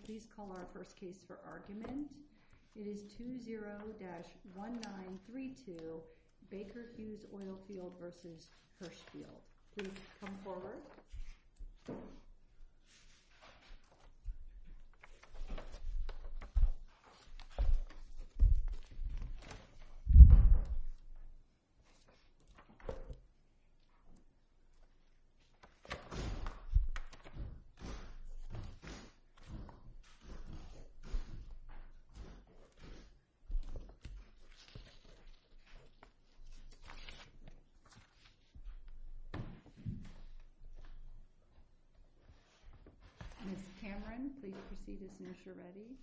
20-1932 Baker Hughes Oilfield v. Hirshfeld Ms. Cameron, please proceed as nurse you're ready.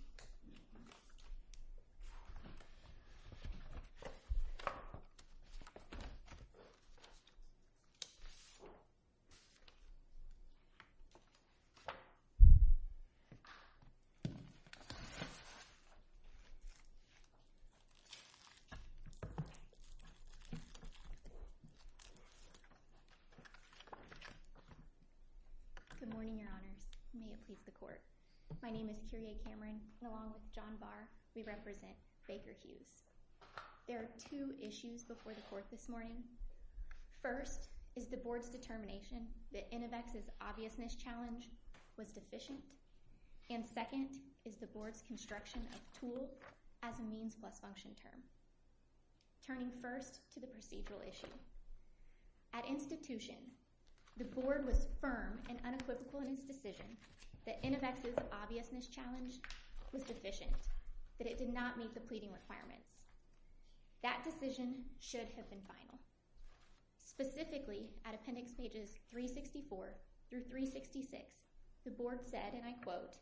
Good morning, your honors. May it please the court. My name is Kyrie Cameron, and along with John Barr, we represent Baker Hughes. There are two issues before the court this morning. First is the board's determination that Inovex's obviousness challenge was deficient. And second is the board's construction of tool as a means plus function term. Turning first to the procedural issue. At institution, the board was firm and unequivocal in its decision that Inovex's obviousness challenge was deficient, that it did not meet the pleading requirements. That decision should have been final. Specifically, at appendix pages 364 through 366, the board said, and I quote,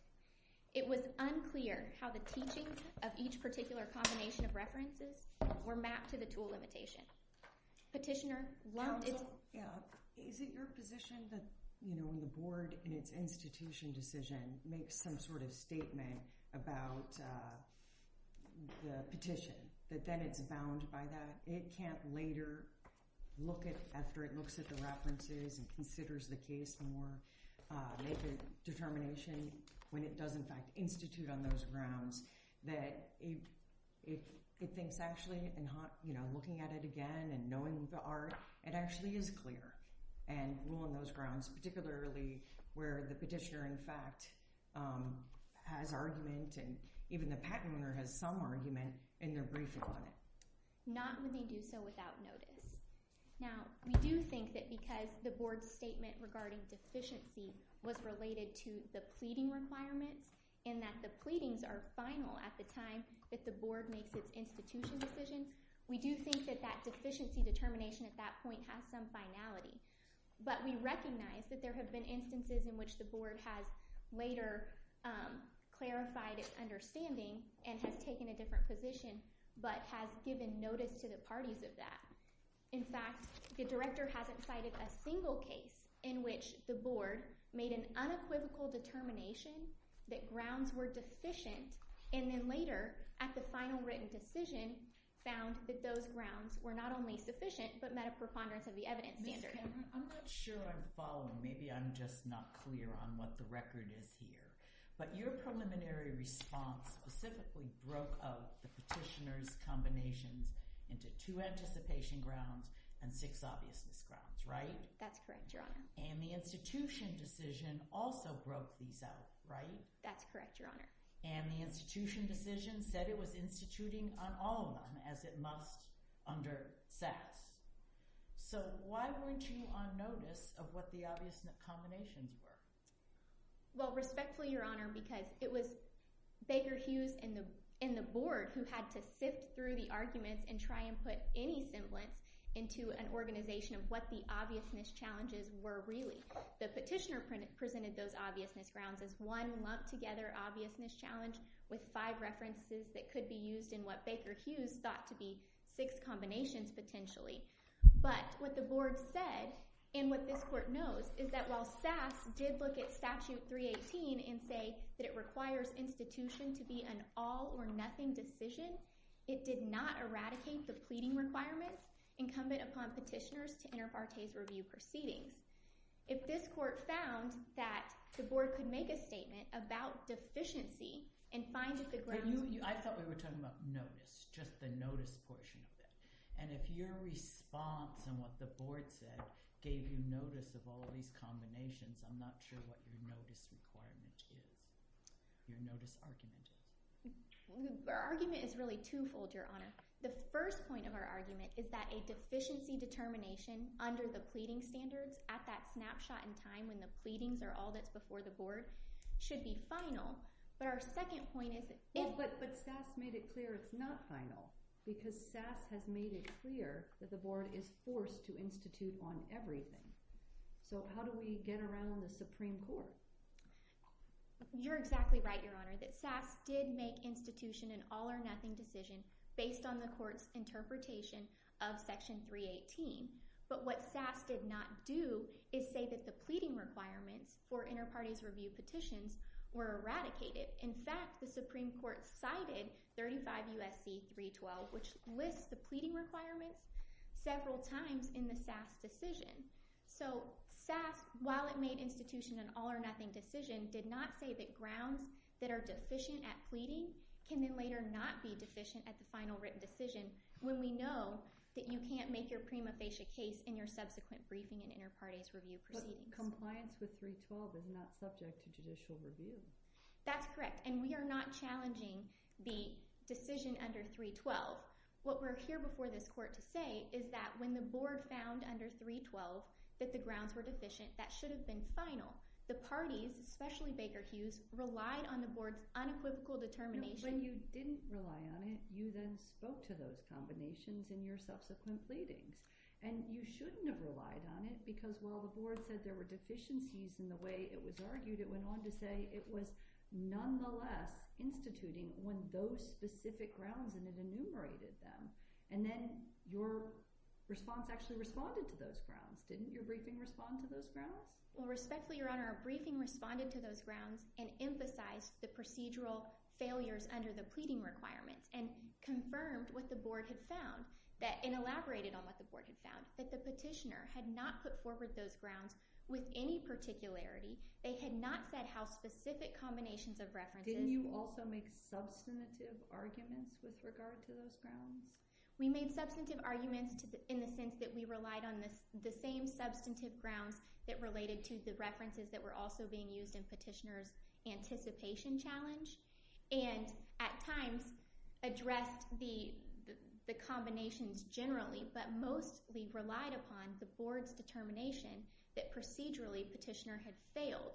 it was unclear how the teaching of each particular combination of references were mapped to the tool limitation. Petitioner loved it. Counsel, is it your position that, you know, when the board in its institution decision makes some sort of statement about the petition, that then it's bound by that? It can't later look at, after it looks at the references and considers the case more, make a determination when it does in fact institute on those grounds, that it thinks actually, you know, looking at it again and knowing the art, it actually is clear. And rule on those grounds, particularly where the petitioner in fact has argument and even the patent owner has some argument in their briefing on it. Not when they do so without notice. Now, we do think that because the board's statement regarding deficiency was related to the pleading requirements and that the pleadings are final at the time that the board makes its institution decision, we do think that that deficiency determination at that point has some finality. But we recognize that there have been instances in which the board has later clarified its understanding and has taken a different position but has given notice to the parties of that. In fact, the director hasn't cited a single case in which the board made an unequivocal determination that grounds were deficient and then later, at the final written decision, found that those grounds were not only sufficient but met a preponderance of the evidence standard. Ms. Cameron, I'm not sure I'm following. Maybe I'm just not clear on what the record is here. But your preliminary response specifically broke out the petitioner's combinations into two anticipation grounds and six obviousness grounds, right? That's correct, Your Honor. And the institution decision also broke these out, right? That's correct, Your Honor. And the institution decision said it was instituting on all of them as it must under SAS. So why weren't you on notice of what the obviousness combinations were? Well, respectfully, Your Honor, because it was Baker Hughes and the board who had to sift through the arguments and try and put any semblance into an organization of what the obviousness challenges were really. The petitioner presented those obviousness grounds as one lumped together obviousness challenge with five references that could be used in what Baker Hughes thought to be six combinations potentially. But what the board said and what this court knows is that while SAS did look at Statute 318 and say that it requires institution to be an all-or-nothing decision, it did not eradicate the pleading requirements incumbent upon petitioners to inter partes review proceedings. If this court found that the board could make a statement about deficiency and find that the grounds— I thought we were talking about notice, just the notice portion of it. And if your response and what the board said gave you notice of all these combinations, I'm not sure what your notice requirement is, your notice argument. Our argument is really twofold, Your Honor. The first point of our argument is that a deficiency determination under the pleading standards at that snapshot in time when the pleadings are all that's before the board should be final. But our second point is— But SAS made it clear it's not final because SAS has made it clear that the board is forced to institute on everything. So how do we get around the Supreme Court? You're exactly right, Your Honor, that SAS did make institution an all-or-nothing decision based on the court's interpretation of Section 318. But what SAS did not do is say that the pleading requirements for inter partes review petitions were eradicated. In fact, the Supreme Court cited 35 U.S.C. 312, which lists the pleading requirements several times in the SAS decision. So SAS, while it made institution an all-or-nothing decision, did not say that grounds that are deficient at pleading can then later not be deficient at the final written decision when we know that you can't make your prima facie case in your subsequent briefing and inter partes review proceedings. Compliance with 312 is not subject to judicial review. That's correct, and we are not challenging the decision under 312. What we're here before this court to say is that when the board found under 312 that the grounds were deficient, that should have been final. The parties, especially Baker Hughes, relied on the board's unequivocal determination— No, when you didn't rely on it, you then spoke to those combinations in your subsequent pleadings. And you shouldn't have relied on it, because while the board said there were deficiencies in the way it was argued, it went on to say it was nonetheless instituting on those specific grounds and it enumerated them. And then your response actually responded to those grounds. Didn't your briefing respond to those grounds? Well, respectfully, Your Honor, our briefing responded to those grounds and emphasized the procedural failures under the pleading requirements and confirmed what the board had found and elaborated on what the board had found, that the petitioner had not put forward those grounds with any particularity. They had not said how specific combinations of references— Didn't you also make substantive arguments with regard to those grounds? We made substantive arguments in the sense that we relied on the same substantive grounds that related to the references that were also being used in Petitioner's anticipation challenge and at times addressed the combinations generally but mostly relied upon the board's determination that procedurally Petitioner had failed.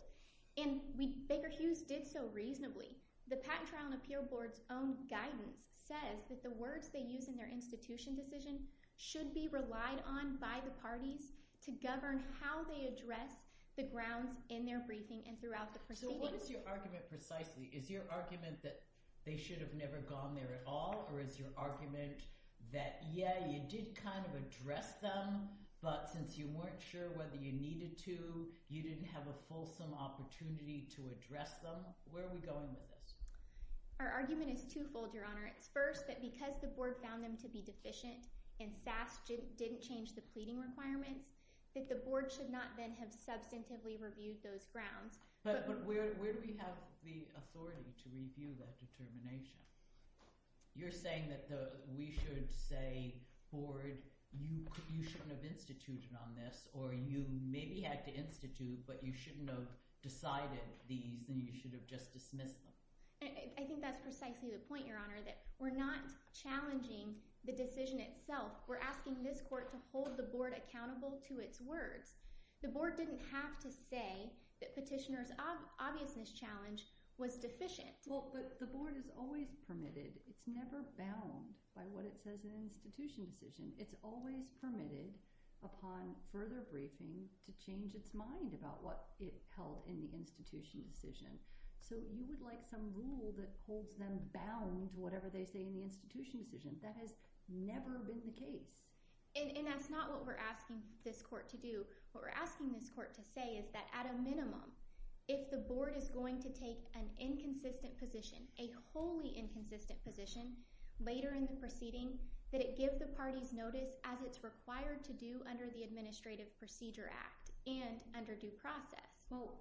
And Baker Hughes did so reasonably. The Patent Trial and Appeal Board's own guidance says that the words they use in their institution decision should be relied on by the parties to govern how they address the grounds in their briefing and throughout the proceedings. So what is your argument precisely? Is your argument that they should have never gone there at all or is your argument that, yeah, you did kind of address them but since you weren't sure whether you needed to, you didn't have a fulsome opportunity to address them? Where are we going with this? Our argument is twofold, Your Honor. It's first that because the board found them to be deficient and SAS didn't change the pleading requirements, that the board should not then have substantively reviewed those grounds. But where do we have the authority to review that determination? You're saying that we should say, Ford, you shouldn't have instituted on this or you maybe had to institute but you shouldn't have decided these and you should have just dismissed them. I think that's precisely the point, Your Honor, that we're not challenging the decision itself. We're asking this court to hold the board accountable to its words. The board didn't have to say that Petitioner's obviousness challenge was deficient. Well, but the board is always permitted. It's never bound by what it says in an institution decision. It's always permitted upon further briefing to change its mind about what it held in the institution decision. So you would like some rule that holds them bound That has never been the case. And that's not what we're asking this court to do. What we're asking this court to say is that at a minimum, if the board is going to take an inconsistent position, a wholly inconsistent position, later in the proceeding, that it give the parties notice as it's required to do under the Administrative Procedure Act and under due process. Well,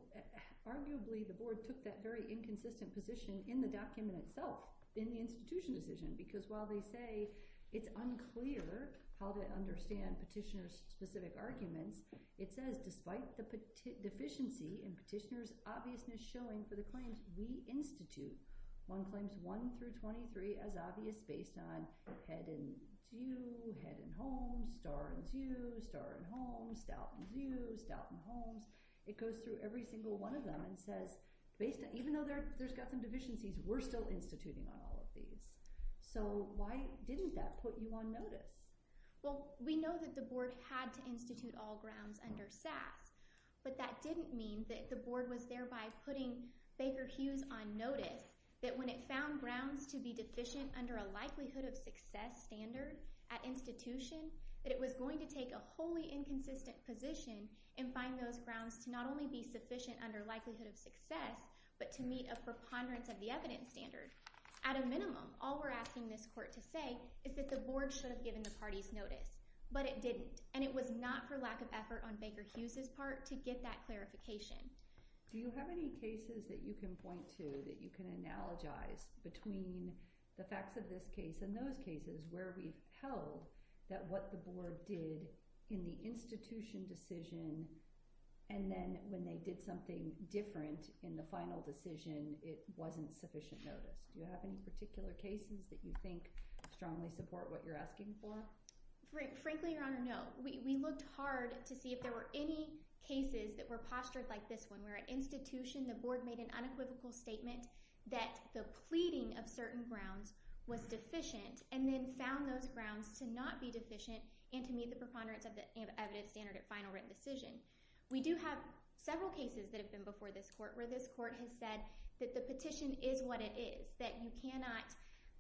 arguably, the board took that very inconsistent position in the document itself in the institution decision because while they say it's unclear how to understand Petitioner's specific arguments, it says despite the deficiency in Petitioner's obviousness showing for the claims we institute, one claims 1 through 23 as obvious based on head and view, head and home, star and view, star and home, stout and view, stout and homes. It goes through every single one of them and says, even though there's got some deficiencies, we're still instituting on all of these. So why didn't that put you on notice? Well, we know that the board had to institute all grounds under SAS, but that didn't mean that the board was thereby putting Baker Hughes on notice that when it found grounds to be deficient under a likelihood of success standard at institution, that it was going to take a wholly inconsistent position and find those grounds to not only be sufficient under likelihood of success, but to meet a preponderance of the evidence standard. At a minimum, all we're asking this court to say is that the board should have given the parties notice, but it didn't, and it was not for lack of effort on Baker Hughes' part to get that clarification. Do you have any cases that you can point to that you can analogize between the facts of this case and those cases where we tell that what the board did in the institution decision and then when they did something different in the final decision, it wasn't sufficient notice? Do you have any particular cases that you think strongly support what you're asking for? Frankly, Your Honor, no. We looked hard to see if there were any cases that were postured like this one where at institution the board made an unequivocal statement that the pleading of certain grounds was deficient and then found those grounds to not be deficient and to meet the preponderance of the evidence standard in their final written decision. We do have several cases that have been before this court where this court has said that the petition is what it is, that you cannot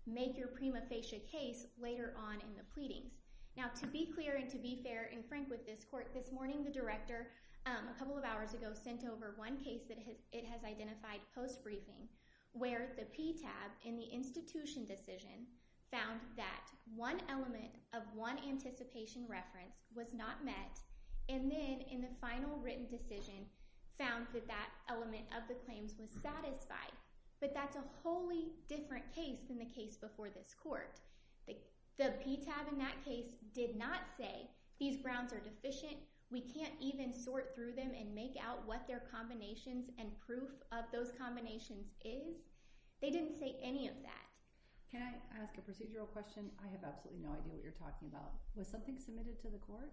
make your prima facie case later on in the pleadings. Now, to be clear and to be fair and frank with this court, this morning the director, a couple of hours ago, sent over one case that it has identified post-briefing where the PTAB in the institution decision found that one element of one anticipation reference was not met and then in the final written decision found that that element of the claims was satisfied. But that's a wholly different case than the case before this court. The PTAB in that case did not say these grounds are deficient, we can't even sort through them and make out what their combinations and proof of those combinations is. They didn't say any of that. Can I ask a procedural question? I have absolutely no idea what you're talking about. Was something submitted to the court?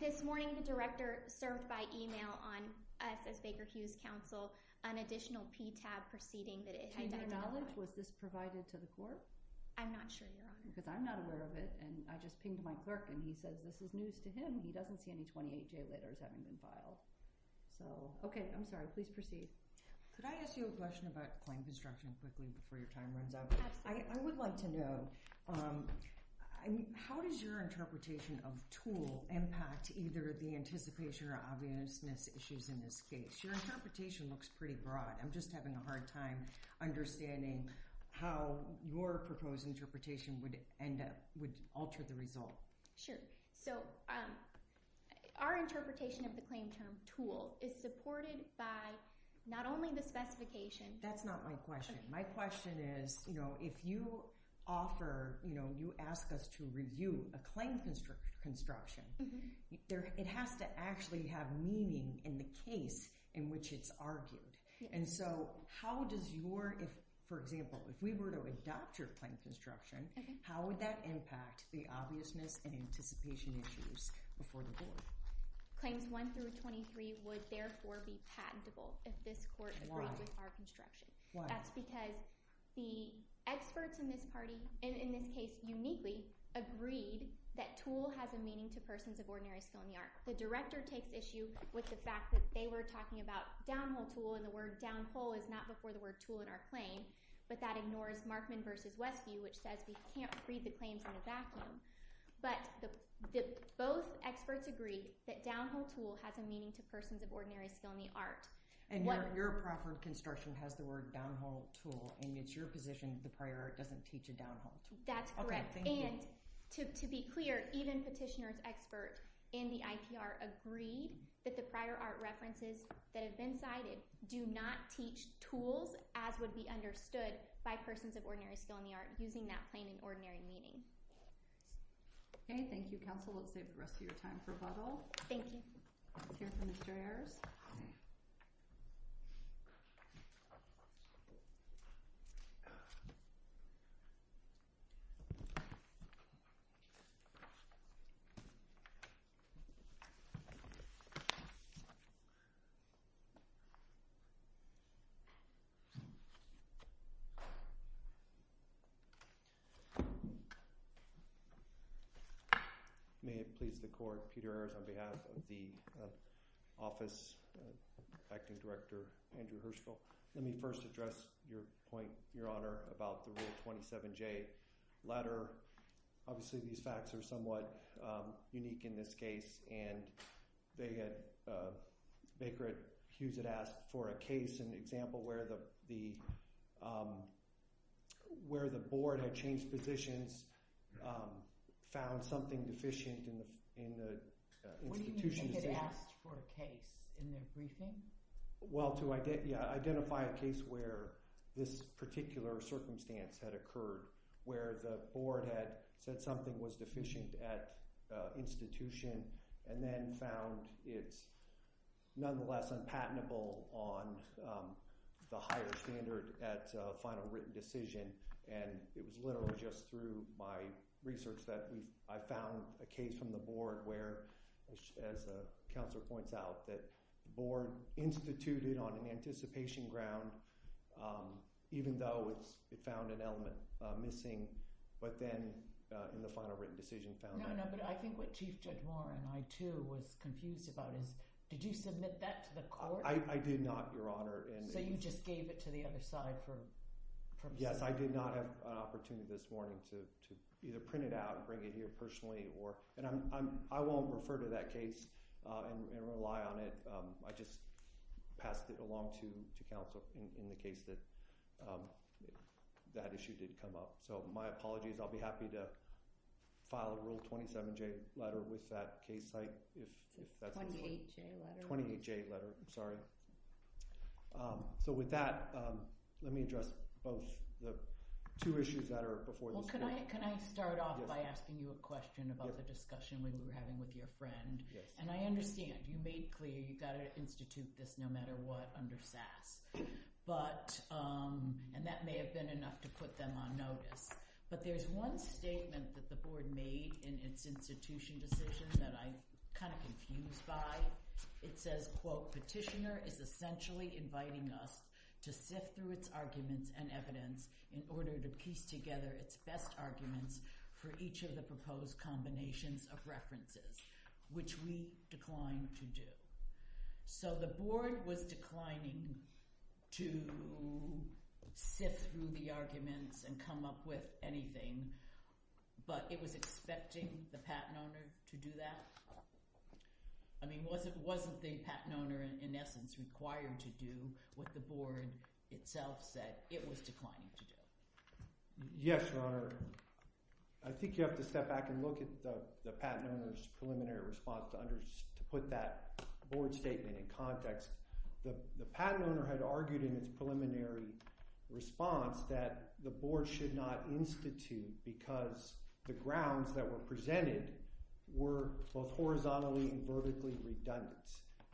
This morning the director served by e-mail on F.S. Baker Hughes' counsel an additional PTAB proceeding that it identified. To your knowledge, was this provided to the court? I'm not sure, Your Honor. Because I'm not aware of it and I just pinged my clerk and he said this is news to him, he doesn't see any 28-J letters that have been filed. So, okay, I'm sorry, please proceed. Could I ask you a question about claim construction quickly before your time runs out? Absolutely. I would like to know, how does your interpretation of tool impact either the anticipation or obviousness issues in this case? Your interpretation looks pretty broad. I'm just having a hard time understanding how your proposed interpretation would alter the result. Sure. So our interpretation of the claim term tool is supported by not only the specification... That's not my question. My question is, you know, if you offer, you know, you ask us to review a claim construction, it has to actually have meaning in the case in which it's argued. And so how does your... For example, if we were to adopt your claim construction, how would that impact the obviousness and anticipation issues before the board? Claims 1 through 23 would therefore be patentable if this court agreed with our construction. Why? That's because the experts in this case uniquely agreed that tool has a meaning to persons of ordinary skill in the art. The director takes issue with the fact that they were talking about downhill tool and the word downhole is not before the word tool in our claim, but that ignores Markman v. Westview, which says we can't read the claims in a vacuum. But both experts agree that downhill tool has a meaning to persons of ordinary skill in the art. And your proper construction has the word downhill tool and it's your position the prior art doesn't teach a downhill tool. That's correct. And to be clear, even petitioners expert in the IPR agreed that the prior art references that have been cited do not teach tools as would be understood by persons of ordinary skill in the art using that plain and ordinary meaning. Okay, thank you, counsel. Let's save the rest of your time for rebuttal. Thank you. Let's hear from Ms. Joyers. Thank you. May it please the court, Peter Ayers on behalf of the office, acting director Andrew Hirschfeld. Let me first address your point, your honor, about the little 27J letter. Obviously, these facts are somewhat unique in this case and Baker Hughes had asked for a case, an example where the board had changed positions, found something deficient in the institution. What do you mean they had asked for a case in their briefing? Well, to identify a case where this particular circumstance had occurred, where the board had said something was deficient at institution and then found it's nonetheless unpatentable on the higher standard at final written decision and it was literally just through my research that I found a case from the board where, as the counselor points out, that the board instituted on an anticipation ground even though it found an element missing, but then in the final written decision found it. No, no, but I think what Chief Judge Warren and I, too, was confused about is did you submit that to the court? I did not, your honor. So you just gave it to the other side for... Yes, I did not have an opportunity this morning to either print it out and bring it here personally and I won't refer to that case and rely on it. I just passed it along to counsel in the case that that issue did come up. So my apologies. I'll be happy to file a Rule 27J letter with that case site. 28J letter. 28J letter, sorry. So with that, let me address both, the two issues that are before you. Well, can I start off by asking you a question about the discussion we were having with your friend? Yes. And I understand you made clear you've got to institute this no matter what under SAS, and that may have been enough to put them on notice, but there's one statement that the board made in its institution decision that I'm kind of confused by. It says, quote, Petitioner is essentially inviting us to sift through its arguments and evidence in order to piece together its best arguments for each of the proposed combinations of references, which we declined to do. So the board was declining to sift through the arguments and come up with anything, but it was expecting the patent owner to do that? I mean, wasn't the patent owner in essence required to do what the board itself said it was declining to do? Yes, Your Honor. I think you have to step back and look at the patent owner's preliminary response to put that board statement in context. The patent owner had argued in its preliminary response that the board should not institute because the grounds that were presented were both horizontally and vertically redundant,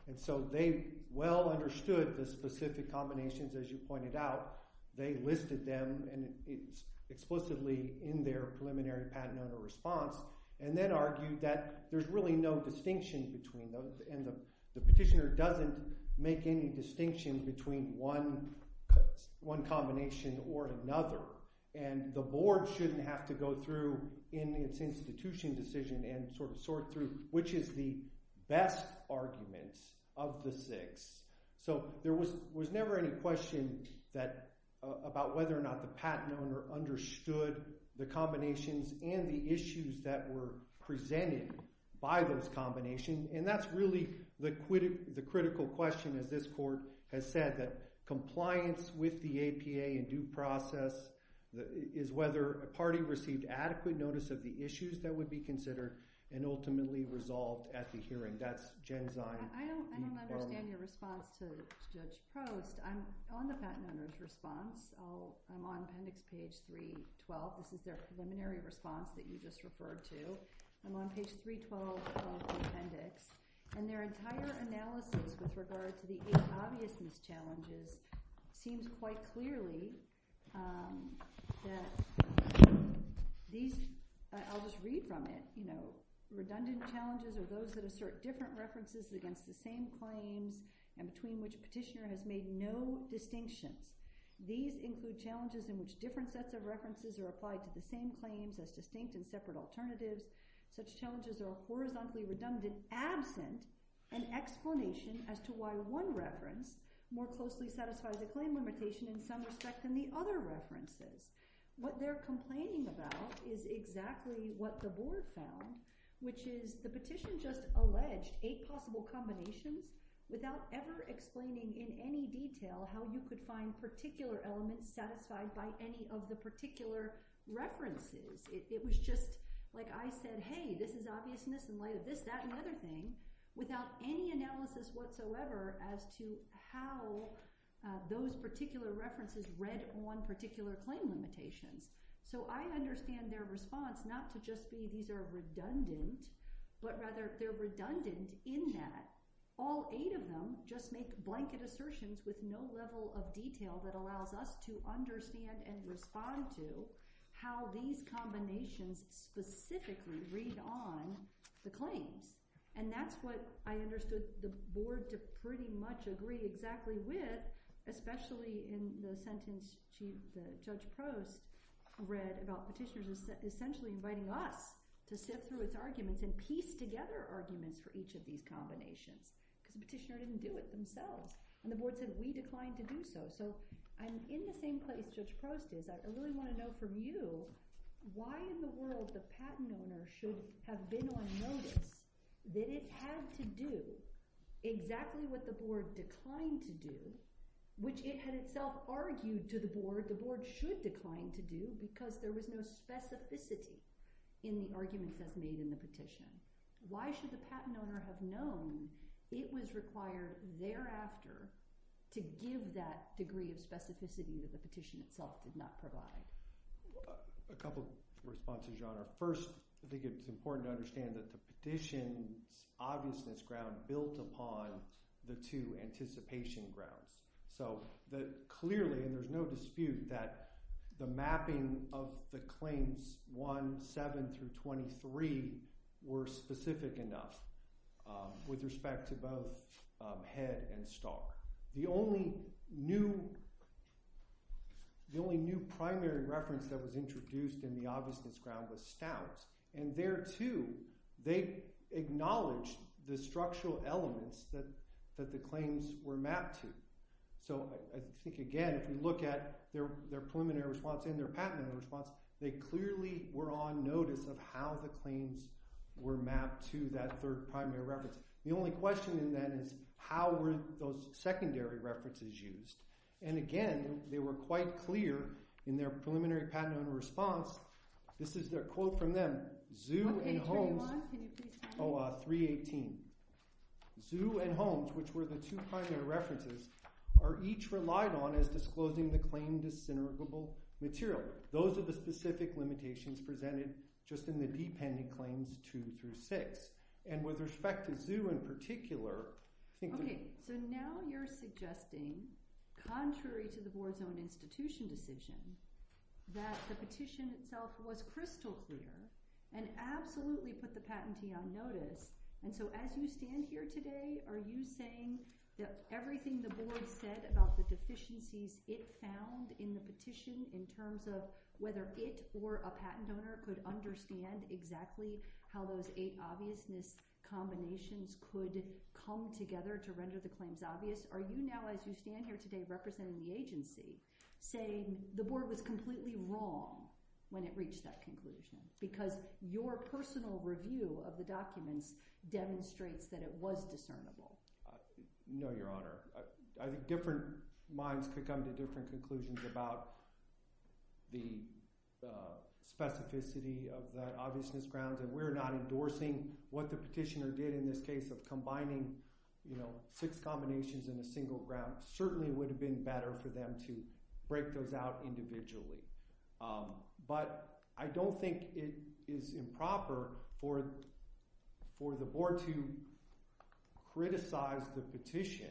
and so they well understood the specific combinations, as you pointed out. They listed them explicitly in their preliminary patent owner response and then argued that there's really no distinction between them and the petitioner doesn't make any distinction between one combination or another, and the board shouldn't have to go through in its institution decision and sort through which is the best argument of the six. So there was never any question about whether or not the patent owner understood the combinations and the issues that were presented by those combinations, and that's really the critical question, as this court has said, that compliance with the APA in due process is whether a party received adequate notice of the issues that would be considered and ultimately resolved at the hearing. That's Genzyme. I don't understand your response to Judge Prost. I'm on the patent owner's response. I'm on appendix page 312. This is their preliminary response that you just referred to. I'm on page 312 of the appendix, and their entire analysis with regard to the eight obvious mischallenges seems quite clearly that these... I'll just read from it. You know, redundant challenges are those that assert different references against the same claims and between which a petitioner has made no distinctions. These include challenges in which different sets of references are applied to the same claims as distinct and separate alternatives. Such challenges are horizontally redundant, absent an explanation as to why one reference more closely satisfies a claim limitation in some respect than the other references. What they're complaining about is exactly what the board found, which is the petition just alleged eight possible combinations without ever explaining in any detail how you could find particular elements satisfied by any of the particular references. It was just like I said, hey, this is obvious in this, in light of this, that, and other thing, without any analysis whatsoever as to how those particular references read on particular claim limitations. So I understand their response not to just be these are redundant, but rather they're redundant in that all eight of them just make blanket assertions with no level of detail that allows us to understand and respond to how these combinations specifically read on the claims. And that's what I understood the board to pretty much agree exactly with, especially in the sentence Judge Prost read about petitioners essentially inviting us to sift through its arguments and piece together arguments for each of these combinations. Because the petitioner didn't do it themselves. And the board said we declined to do so. So I'm in the same place Judge Prost is. I really want to know from you why in the world the patent owner should have been on notice that it had to do exactly what the board declined to do, which it had itself argued to the board the board should decline to do because there was no specificity in the arguments that's made in the petition. Why should the patent owner have known it was required thereafter to give that degree of specificity that the petition itself did not provide? A couple of responses, Your Honor. First, I think it's important to understand that the petition's obviousness ground built upon the two anticipation grounds. So clearly, and there's no dispute, that the mapping of the claims 1, 7 through 23 were specific enough with respect to both Head and Stalk. The only new primary reference that was introduced in the obviousness ground was Stout. And there, too, they acknowledged the structural elements that the claims were mapped to. So I think, again, if you look at their preliminary response and their patent owner response, they clearly were on notice of how the claims were mapped to that third primary reference. The only question, then, is how were those secondary references used? And, again, they were quite clear in their preliminary patent owner response this is their quote from them, Zoo and Holmes... Okay, turn it on, can you please turn it on? Oh, 318. Zoo and Holmes, which were the two primary references, are each relied on as disclosing the claim dis-synergable material. Those are the specific limitations presented just in the D pending claims 2 through 6. And with respect to Zoo in particular... Okay, so now you're suggesting, contrary to the board's own institution decision, that the petition itself was crystal clear and absolutely put the patentee on notice. And so as you stand here today, are you saying that everything the board said about the deficiencies it found in the petition in terms of whether it or a patent owner could understand exactly how those eight obviousness combinations could come together to render the claims obvious? Are you now, as you stand here today representing the agency, saying the board was completely wrong when it reached that conclusion? Because your personal review of the documents demonstrates that it was discernible. No, Your Honor. I think different minds could come to different conclusions about the specificity of the obviousness grounds, and we're not endorsing what the petitioner did in this case of combining six combinations in a single ground. It certainly would have been better for them to break those out individually. But I don't think it is improper for the board to criticize the petition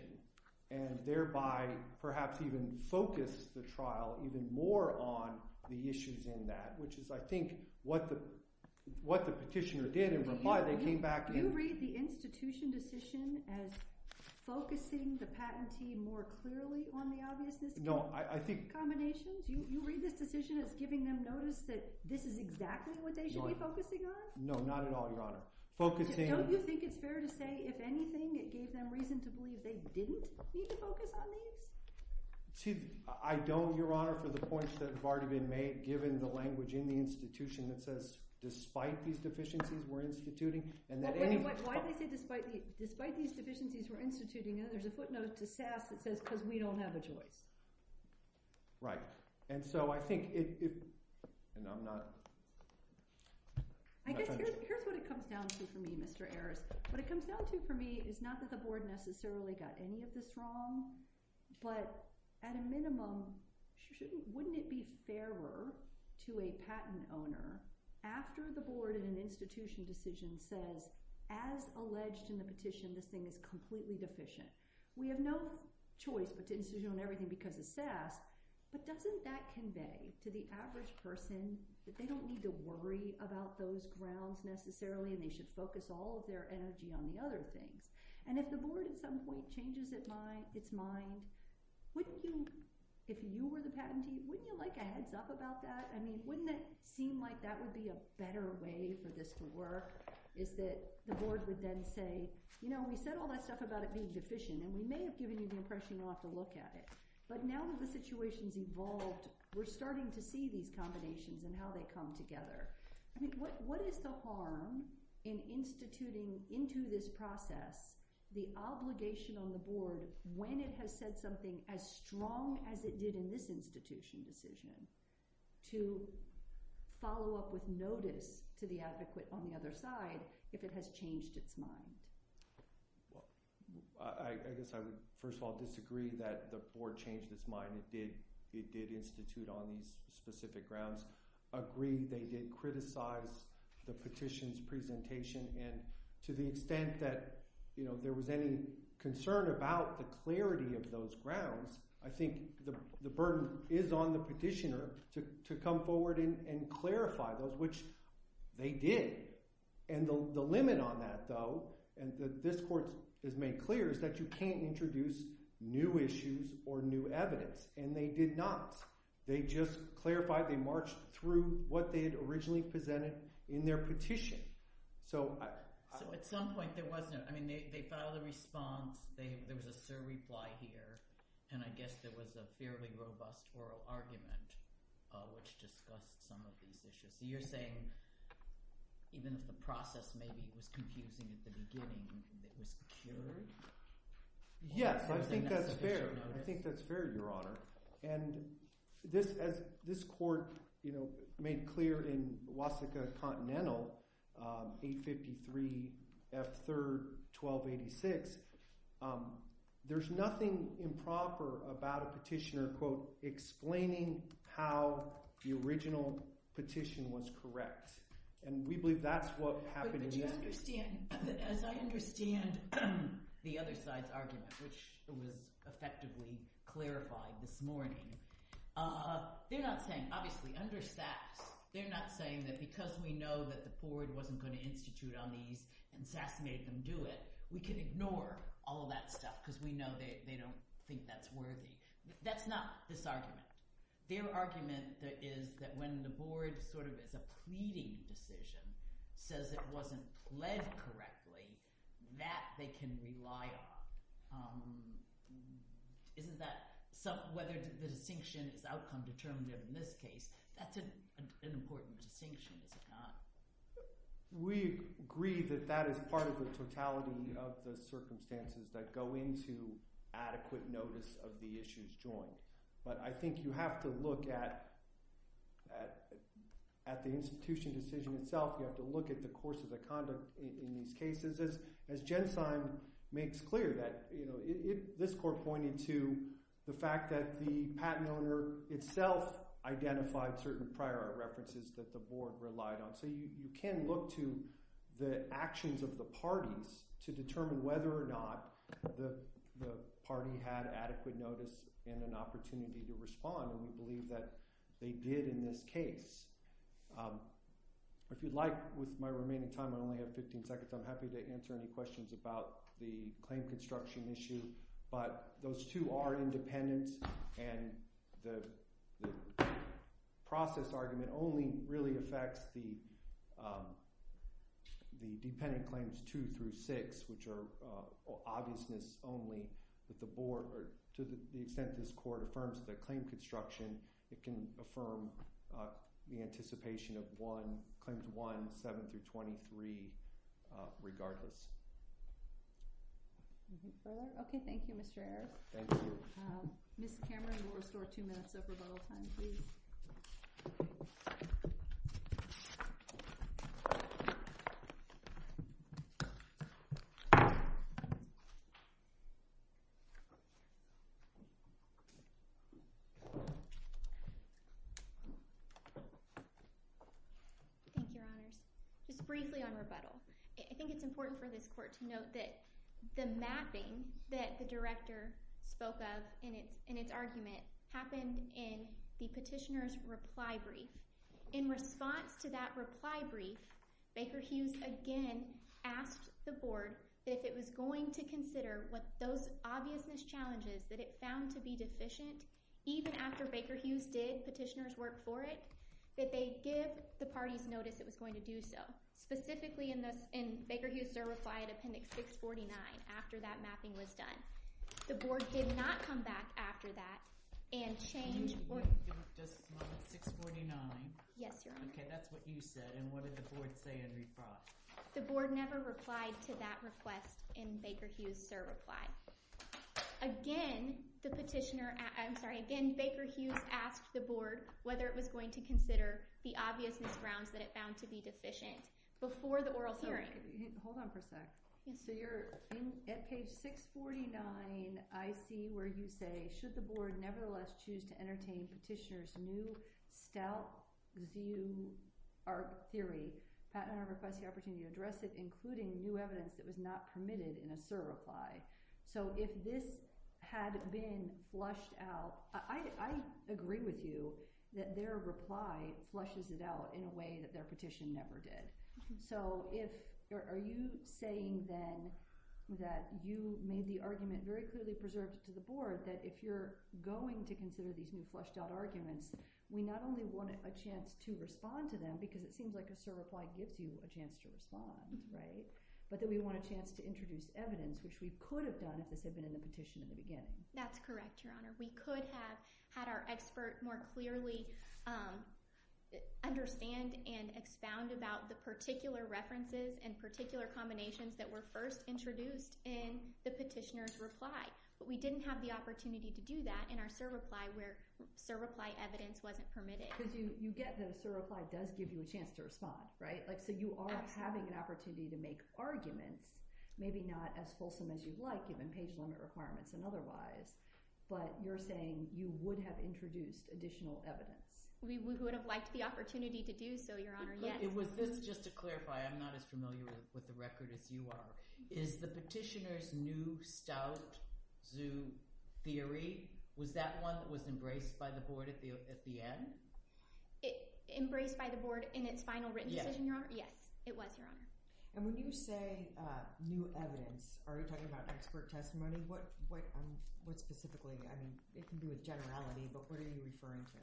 and thereby perhaps even focus the trial even more on the issues in that, which is, I think, what the petitioner did in reply. They came back and... Do you read the institution decision as focusing the patentee more clearly on the obviousness... No, I think... ...combinations? Do you read this decision as giving them notice that this is exactly what they should be focusing on? No, not at all, Your Honor. Focusing... Don't you think it's fair to say, if anything, it gave them reason to believe they didn't need to focus on these? See, I don't, Your Honor, for the points that have already been made, given the language in the institution that says, despite these deficiencies, we're instituting, and that any... Why did they say, despite these deficiencies, we're instituting, and then there's a footnote to Sass that says, because we don't have a choice? Right. And so I think it... And I'm not... I guess here's what it comes down to for me, Mr. Ares. What it comes down to for me is not that the board necessarily got any of this wrong, but at a minimum, wouldn't it be fairer to a patent owner, after the board in an institution decision says, as alleged in the petition, this thing is completely deficient. We have no choice but to institute on everything because of Sass, but doesn't that convey to the average person that they don't need to worry about those grounds necessarily, and they should focus all of their energy on the other things? And if the board at some point changes its mind, wouldn't you, if you were the patentee, wouldn't you like a heads up about that? I mean, wouldn't it seem like that would be a better way for this to work, is that the board would then say, you know, we said all that stuff about it being deficient, and we may have given you the impression we'll have to look at it, but now that the situation's evolved, we're starting to see these combinations and how they come together. I mean, what is the harm in instituting into this process the obligation on the board when it has said something as strong as it did in this institution decision to follow up with notice to the advocate on the other side if it has changed its mind? I guess I would, first of all, disagree that the board changed its mind. It did institute on these specific grounds. Agree they did criticize the petition's presentation, and to the extent that, you know, there was any concern about the clarity of those grounds, I think the burden is on the petitioner to come forward and clarify those, which they did. And the limit on that, though, and this court has made clear, is that you can't introduce new issues or new evidence, and they did not. They just clarified, they marched through what they had originally presented in their petition. So I... So at some point, there wasn't... I mean, they filed a response, there was a surreply here, and I guess there was a fairly robust oral argument which discussed some of these issues. So you're saying, even if the process maybe was confusing at the beginning, it was cured? Yes, I think that's fair. I think that's fair, Your Honor. And this court, you know, made clear in Wasika Continental, 853 F. 3rd 1286, there's nothing improper about a petitioner, quote, explaining how the original petition was correct. And we believe that's what happened... But you understand, as I understand the other side's argument, which was effectively clarified this morning, they're not saying, obviously, under SAS, they're not saying that because we know that the board wasn't going to institute on these and SAS made them do it, we can ignore all of that stuff because we know they don't think that's worthy. That's not this argument. Their argument is that when the board sort of is a pleading decision, says it wasn't led correctly, that they can rely on. Isn't that... Whether the distinction is outcome determinative in this case, that's an important distinction, is it not? We agree that that is part of the totality of the circumstances that go into the adequate notice of the issues joined. But I think you have to look at the institution decision itself. You have to look at the course of the conduct in these cases. As Jen Sein makes clear, this court pointed to the fact that the patent owner itself identified certain prior art references that the board relied on. So you can look to the actions of the parties to determine whether or not the party had adequate notice and an opportunity to respond. And we believe that they did in this case. If you'd like, with my remaining time, I only have 15 seconds, I'm happy to answer any questions about the claim construction issue. But those two are independent and the process argument only really affects the six, which are obviousness only, that the board, or to the extent this court affirms that claim construction, it can affirm the anticipation of one, claims one, seven through 23, regardless. Okay, thank you, Mr. Eric. Thank you. Mr. Cameron, we'll restore two minutes of rebuttal time, please. Thank you. Thank you, Your Honors. Just briefly on rebuttal, I think it's important for this court to note that the mapping that the director spoke of in its argument happened in the petitioner's reply brief. In response to that reply brief, Baker Hughes again asked the board that if it was going to consider what those obviousness challenges that it found to be deficient, even after Baker Hughes did petitioner's work for it, that they give the parties notice it was going to do so. Specifically in Baker Hughes' reply at appendix 649 after that mapping was done. The board did not come back after that and change... Just a moment, 649. Yes, Your Honor. Okay, that's what you said. And what did the board say in response? The board never replied to that request in Baker Hughes' reply. Again, the petitioner... I'm sorry. Again, Baker Hughes asked the board whether it was going to consider the obviousness grounds that it found to be deficient before the oral hearing. Hold on for a sec. So you're at page 649. I see where you say, should the board nevertheless choose to entertain petitioner's move, stout view our theory, Pat and I request the opportunity to address it, including new evidence that was not permitted in a surreply. So if this had been flushed out... I agree with you that their reply flushes it out in a way that their petition never did. So are you saying then that you made the argument very clearly preserved to the board that if you're going to consider these new flushed-out arguments, we not only want a chance to respond to them, because it seems like a surreply gives you a chance to respond, right? But that we want a chance to introduce evidence, which we could have done if this had been in the petition in the beginning. That's correct, Your Honor. We could have had our expert more clearly understand and expound about the particular references and particular combinations that were first introduced in the petitioner's reply. But we didn't have the opportunity to do that in our surreply where surreply evidence wasn't permitted. Because you get that a surreply does give you a chance to respond, right? So you are having an opportunity to make arguments, maybe not as fulsome as you'd like given page limit requirements and otherwise, but you're saying you would have introduced additional evidence. We would have liked the opportunity to do so, Your Honor. Just to clarify, I'm not as familiar with the record as you are. Is the petitioner's new stout zoo theory, was that one that was embraced by the board at the end? Embraced by the board in its final written decision, Your Honor? Yes, it was, Your Honor. And when you say new evidence, are you talking about expert testimony? What specifically? I mean, it can be with generality, but what are you referring to?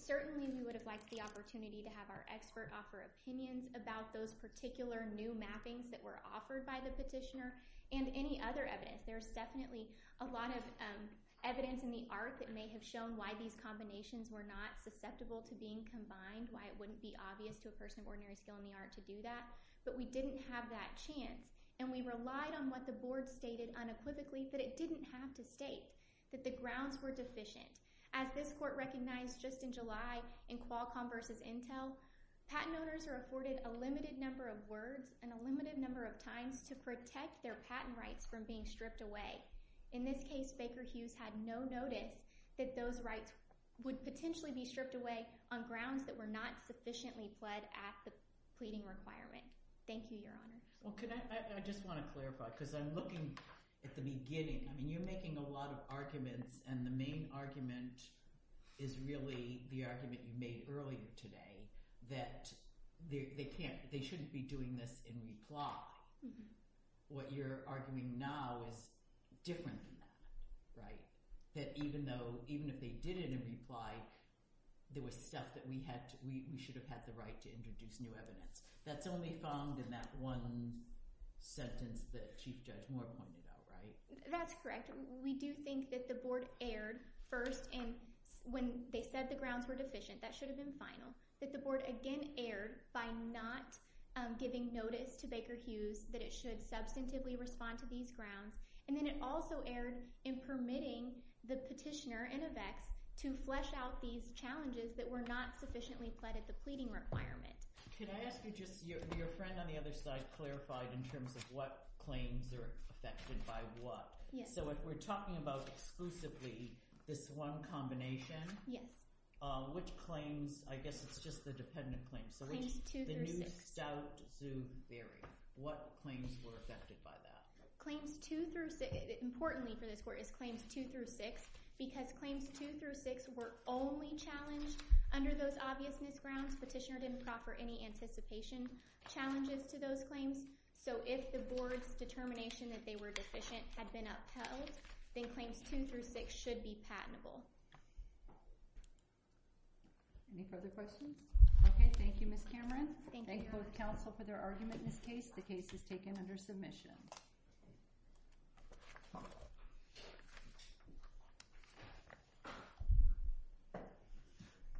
Certainly, we would have liked the opportunity to have our expert offer opinions about those particular new mappings that were offered by the petitioner and any other evidence. There's definitely a lot of evidence in the art that may have shown why these combinations were not susceptible to being combined, why it wouldn't be obvious to a person of ordinary skill in the art to do that, but we didn't have that chance. And we relied on what the board stated unequivocally that it didn't have to state, that the grounds were deficient. As this court recognized just in July in Qualcomm v. Intel, patent owners are afforded a limited number of words and a limited number of times to protect their patent rights from being stripped away. In this case, Baker Hughes had no notice that those rights would potentially be stripped away on grounds that were not sufficiently pled at the pleading requirement. Thank you, Your Honor. I just want to clarify, because I'm looking at the beginning. I mean, you're making a lot of arguments, and the main argument is really the argument you made earlier today that they shouldn't be doing this in reply. What you're arguing now is different than that, right? That even if they did it in reply, there was stuff that we should have had the right to introduce new evidence. That's only found in that one sentence that Chief Judge Moore pointed out, right? That's correct. We do think that the board erred first, and when they said the grounds were deficient, that should have been final, that the board again erred by not giving notice to Baker Hughes that it should substantively respond to these grounds, and then it also erred in permitting the petitioner and a vex to flesh out these challenges that were not sufficiently pled at the pleading requirement. Could I ask you just, your friend on the other side clarified in terms of what claims are affected by what. So if we're talking about exclusively this one combination, which claims, I guess it's just the dependent claims. Claims 2 through 6. The New Stout Zoo Bury. What claims were affected by that? Claims 2 through 6. Importantly for this court is claims 2 through 6 because claims 2 through 6 were only challenged under those obvious misgrounds. Petitioner didn't proffer any anticipation challenges to those claims, so if the board's determination that they were deficient had been upheld, then claims 2 through 6 should be patentable. Any further questions? Okay. Thank you, Ms. Cameron. Thank both counsel for their argument in this case. The case is taken under submission.